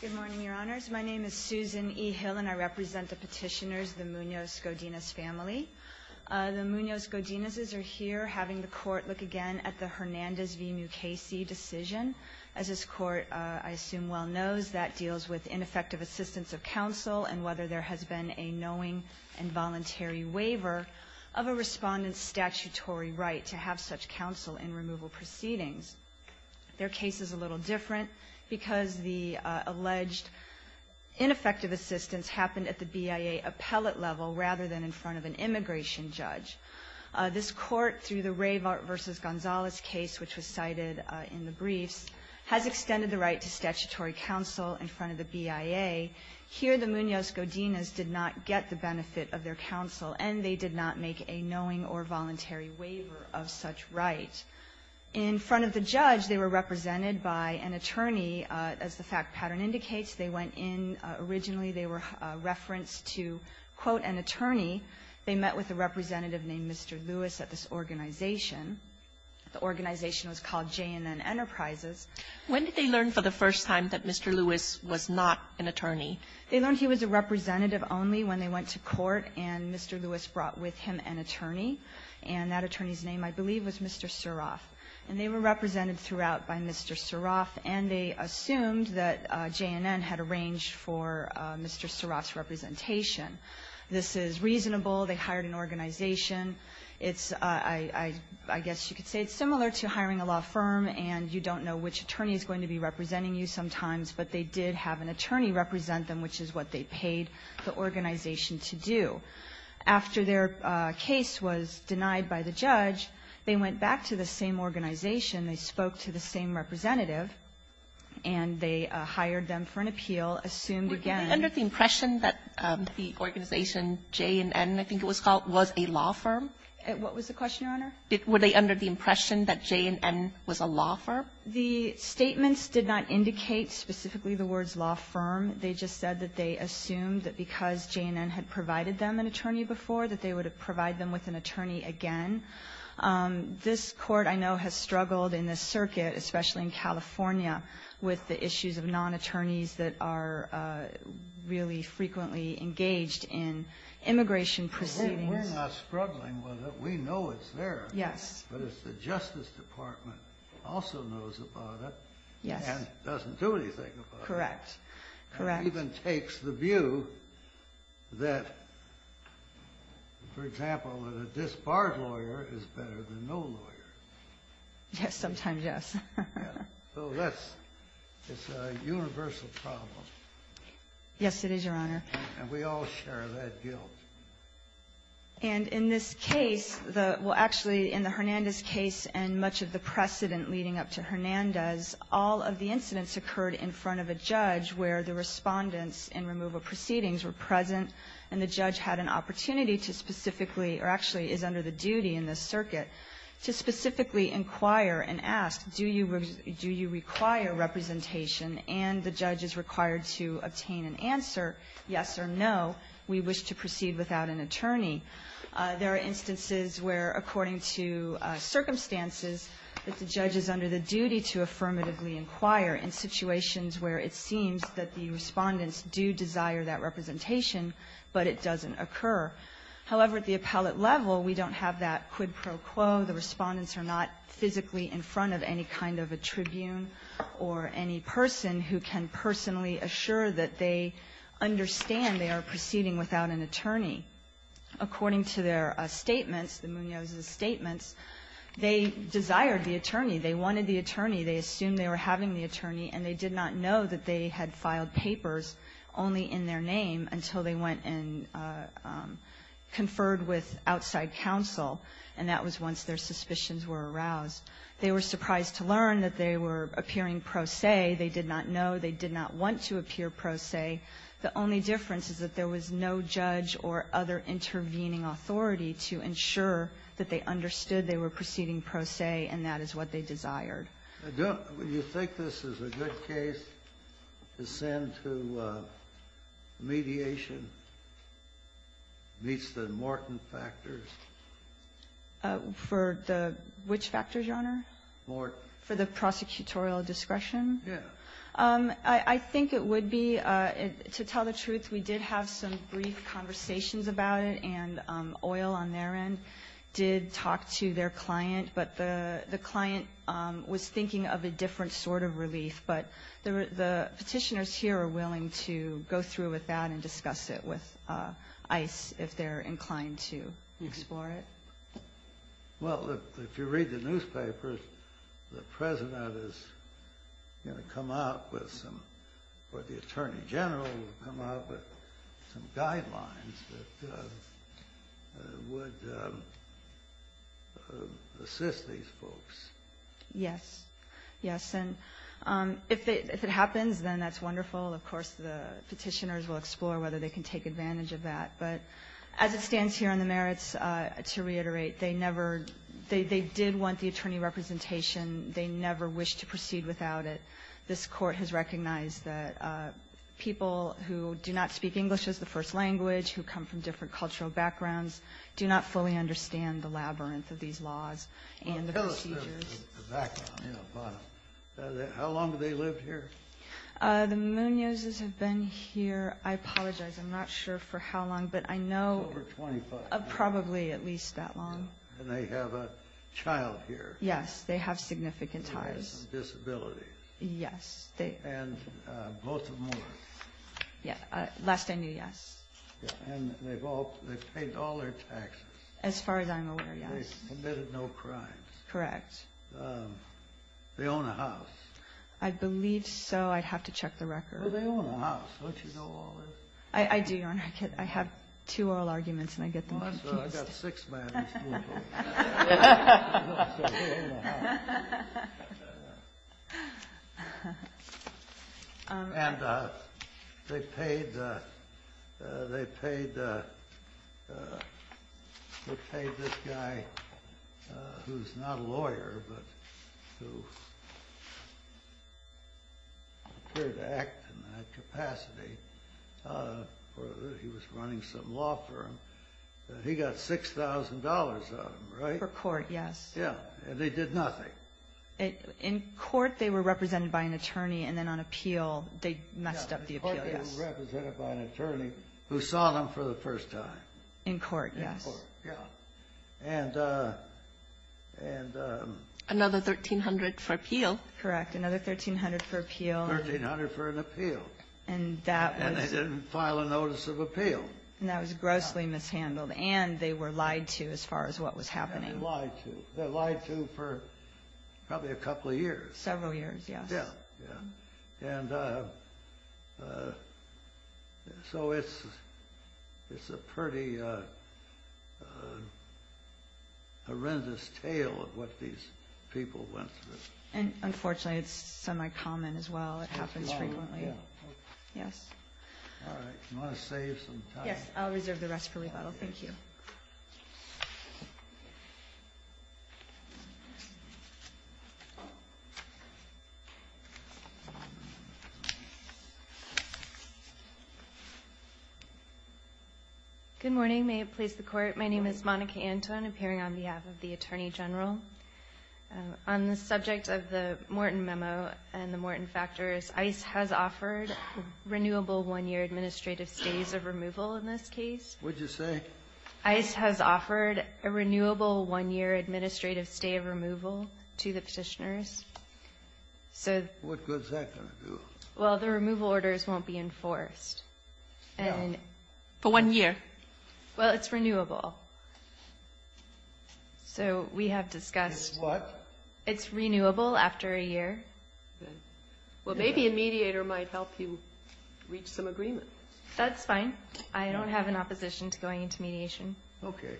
Good morning, Your Honors. My name is Susan E. Hill, and I represent the petitioners, the Munoz Godinez family. The Munoz Godinezes are here having the Court look again at the Hernandez v. Mukasey decision. As this Court, I assume, well knows, that deals with ineffective assistance of counsel and whether there has been a knowing and voluntary waiver of a respondent's statutory right to have such counsel in removal proceedings. Their case is a little different, because the alleged ineffective assistance happened at the BIA appellate level, rather than in front of an immigration judge. This Court, through the Ray v. Gonzalez case, which was cited in the briefs, has extended the right to statutory counsel in front of the BIA. Here, the Munoz Godinez did not get the benefit of their counsel, and they did not make a knowing or voluntary waiver of such right. In front of the judge, they were represented by an attorney. As the fact pattern indicates, they went in originally, they were referenced to, quote, an attorney. They met with a representative named Mr. Lewis at this organization. The organization was called J&N Enterprises. Kagan, when did they learn for the first time that Mr. Lewis was not an attorney? They learned he was a representative only when they went to court and Mr. Lewis brought with him an attorney, and that attorney's name, I believe, was Mr. Suroff. And they were represented throughout by Mr. Suroff, and they assumed that J&N had arranged for Mr. Suroff's representation. This is reasonable. They hired an organization. It's, I guess you could say it's similar to hiring a law firm, and you don't know which attorney is going to be representing you sometimes, but they did have an attorney represent them, which is what they paid the organization to do. After their case was denied by the judge, they went back to the same organization. They spoke to the same representative, and they hired them for an appeal, assumed again that the organization J&N, I think it was called, was a law firm. What was the question, Your Honor? Were they under the impression that J&N was a law firm? The statements did not indicate specifically the words law firm. They just said that they assumed that because J&N had provided them an attorney before, that they would provide them with an attorney again. This Court, I know, has struggled in this circuit, especially in California, with the issues of non-attorneys that are really frequently engaged in immigration proceedings. We're not struggling with it. We know it's there. Yes. But it's the Justice Department also knows about it. Yes. And doesn't do anything about it. Correct. Correct. And even takes the view that, for example, that a disbarred lawyer is better than no lawyer. Sometimes, yes. So that's a universal problem. Yes, it is, Your Honor. And we all share that guilt. And in this case, well, actually, in the Hernandez case and much of the precedent leading up to Hernandez, all of the incidents occurred in front of a judge where the respondents in removal proceedings were present, and the judge had an opportunity to specifically, or actually is under the duty in this circuit, to specifically inquire and ask, do you require representation, and the judge is required to obtain an answer, yes or no, we wish to proceed without an attorney. There are instances where, according to circumstances, that the judge is under the duty to affirmatively inquire in situations where it seems that the respondents do desire that representation, but it doesn't occur. However, at the appellate level, we don't have that quid pro quo. The respondents are not physically in front of any kind of a tribune or any person who can personally assure that they understand they are proceeding without an attorney. According to their statements, the Munoz's statements, they desired the attorney, they wanted the attorney, they assumed they were having the attorney, and they did not know that they had filed papers only in their name until they went and conferred with outside counsel, and that was once their suspicions were aroused. They were surprised to learn that they were appearing pro se. They did not know. They did not want to appear pro se. The only difference is that there was no judge or other intervening authority to ensure that they understood they were proceeding pro se, and that is what they desired. Kennedy. Do you think this is a good case to send to mediation? It meets the Morton factors. For the which factors, Your Honor? Morton. For the prosecutorial discretion? Yes. I think it would be. To tell the truth, we did have some brief conversations about it, and Oil on their end did talk to their client, but the client was thinking of a different sort of relief. But the Petitioners here are willing to go through with that and discuss it with ICE if they're inclined to explore it. Well, if you read the newspapers, the President is going to come out with some or the Attorney General will come out with some guidelines that would assist these folks. Yes. Yes. And if it happens, then that's wonderful. Of course, the Petitioners will explore whether they can take advantage of that. But as it stands here in the merits, to reiterate, they never they did want the attorney representation. They never wished to proceed without it. This Court has recognized that people who do not speak English as the first language, who come from different cultural backgrounds, do not fully understand the labyrinth of these laws and the procedures. How long have they lived here? The Munozes have been here. I apologize. I'm not sure for how long, but I know. Over 25. Probably at least that long. And they have a child here. Yes. They have significant ties. They have some disabilities. Yes. And both of them were. Last I knew, yes. And they've paid all their taxes. As far as I'm aware, yes. They've committed no crimes. Correct. They own a house. I believe so. I'd have to check the record. They own a house. Don't you know all this? I do, Your Honor. I have two oral arguments, and I get them confused. I've got six, ma'am. And they paid this guy who's not a lawyer, but who appeared to act in that capacity. He was running some law firm. He got $6,000 out of them, right? For court, yes. Yeah. And they did nothing. In court, they were represented by an attorney, and then on appeal, they messed up the appeal. Yes. They were represented by an attorney who saw them for the first time. In court, yes. In court, yeah. And. Another $1,300 for appeal. Correct. Another $1,300 for appeal. $1,300 for an appeal. And that was. And they didn't file a notice of appeal. And that was grossly mishandled. And they were lied to as far as what was happening. They were lied to. They were lied to for probably a couple of years. Several years, yes. Yeah, yeah. And so it's a pretty horrendous tale of what these people went through. And unfortunately, it's semi-common as well. It happens frequently. Yeah. Yes. All right. Do you want to save some time? I'll reserve the rest for rebuttal. Thank you. Good morning. May it please the Court. My name is Monica Anton, appearing on behalf of the Attorney General. On the subject of the Morton memo and the Morton factors, ICE has offered renewable one-year administrative stays of removal in this case. What did you say? ICE has offered a renewable one-year administrative stay of removal to the Petitioners. So. What good is that going to do? Well, the removal orders won't be enforced. No. For one year. Well, it's renewable. So we have discussed. It's what? It's renewable after a year. Well, maybe a mediator might help you reach some agreement. That's fine. I don't have an opposition to going into mediation. Okay.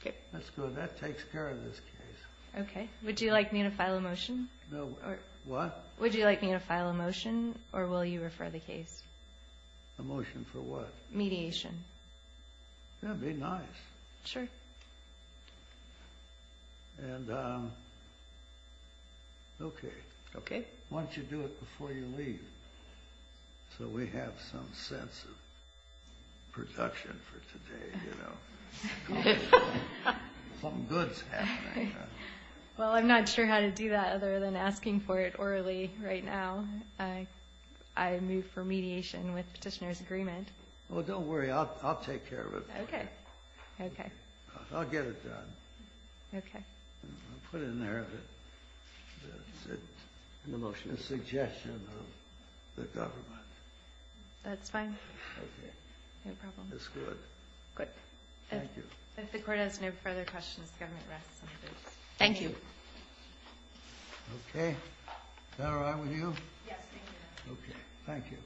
Okay. That's good. That takes care of this case. Okay. Would you like me to file a motion? What? Would you like me to file a motion, or will you refer the case? A motion for what? Mediation. That would be nice. Sure. And. Okay. Okay. Why don't you do it before you leave, so we have some sense of production for today, you know. Something good is happening. Well, I'm not sure how to do that other than asking for it orally right now. I move for mediation with Petitioners' agreement. Well, don't worry. I'll take care of it. Okay. Okay. I'll get it done. Okay. I'll put it in there, but it's a suggestion of the government. That's fine. Okay. No problem. That's good. Good. Thank you. If the court has no further questions, the government rests. Thank you. Okay. Is that all right with you? Yes, thank you. Okay. Thank you. Thank you.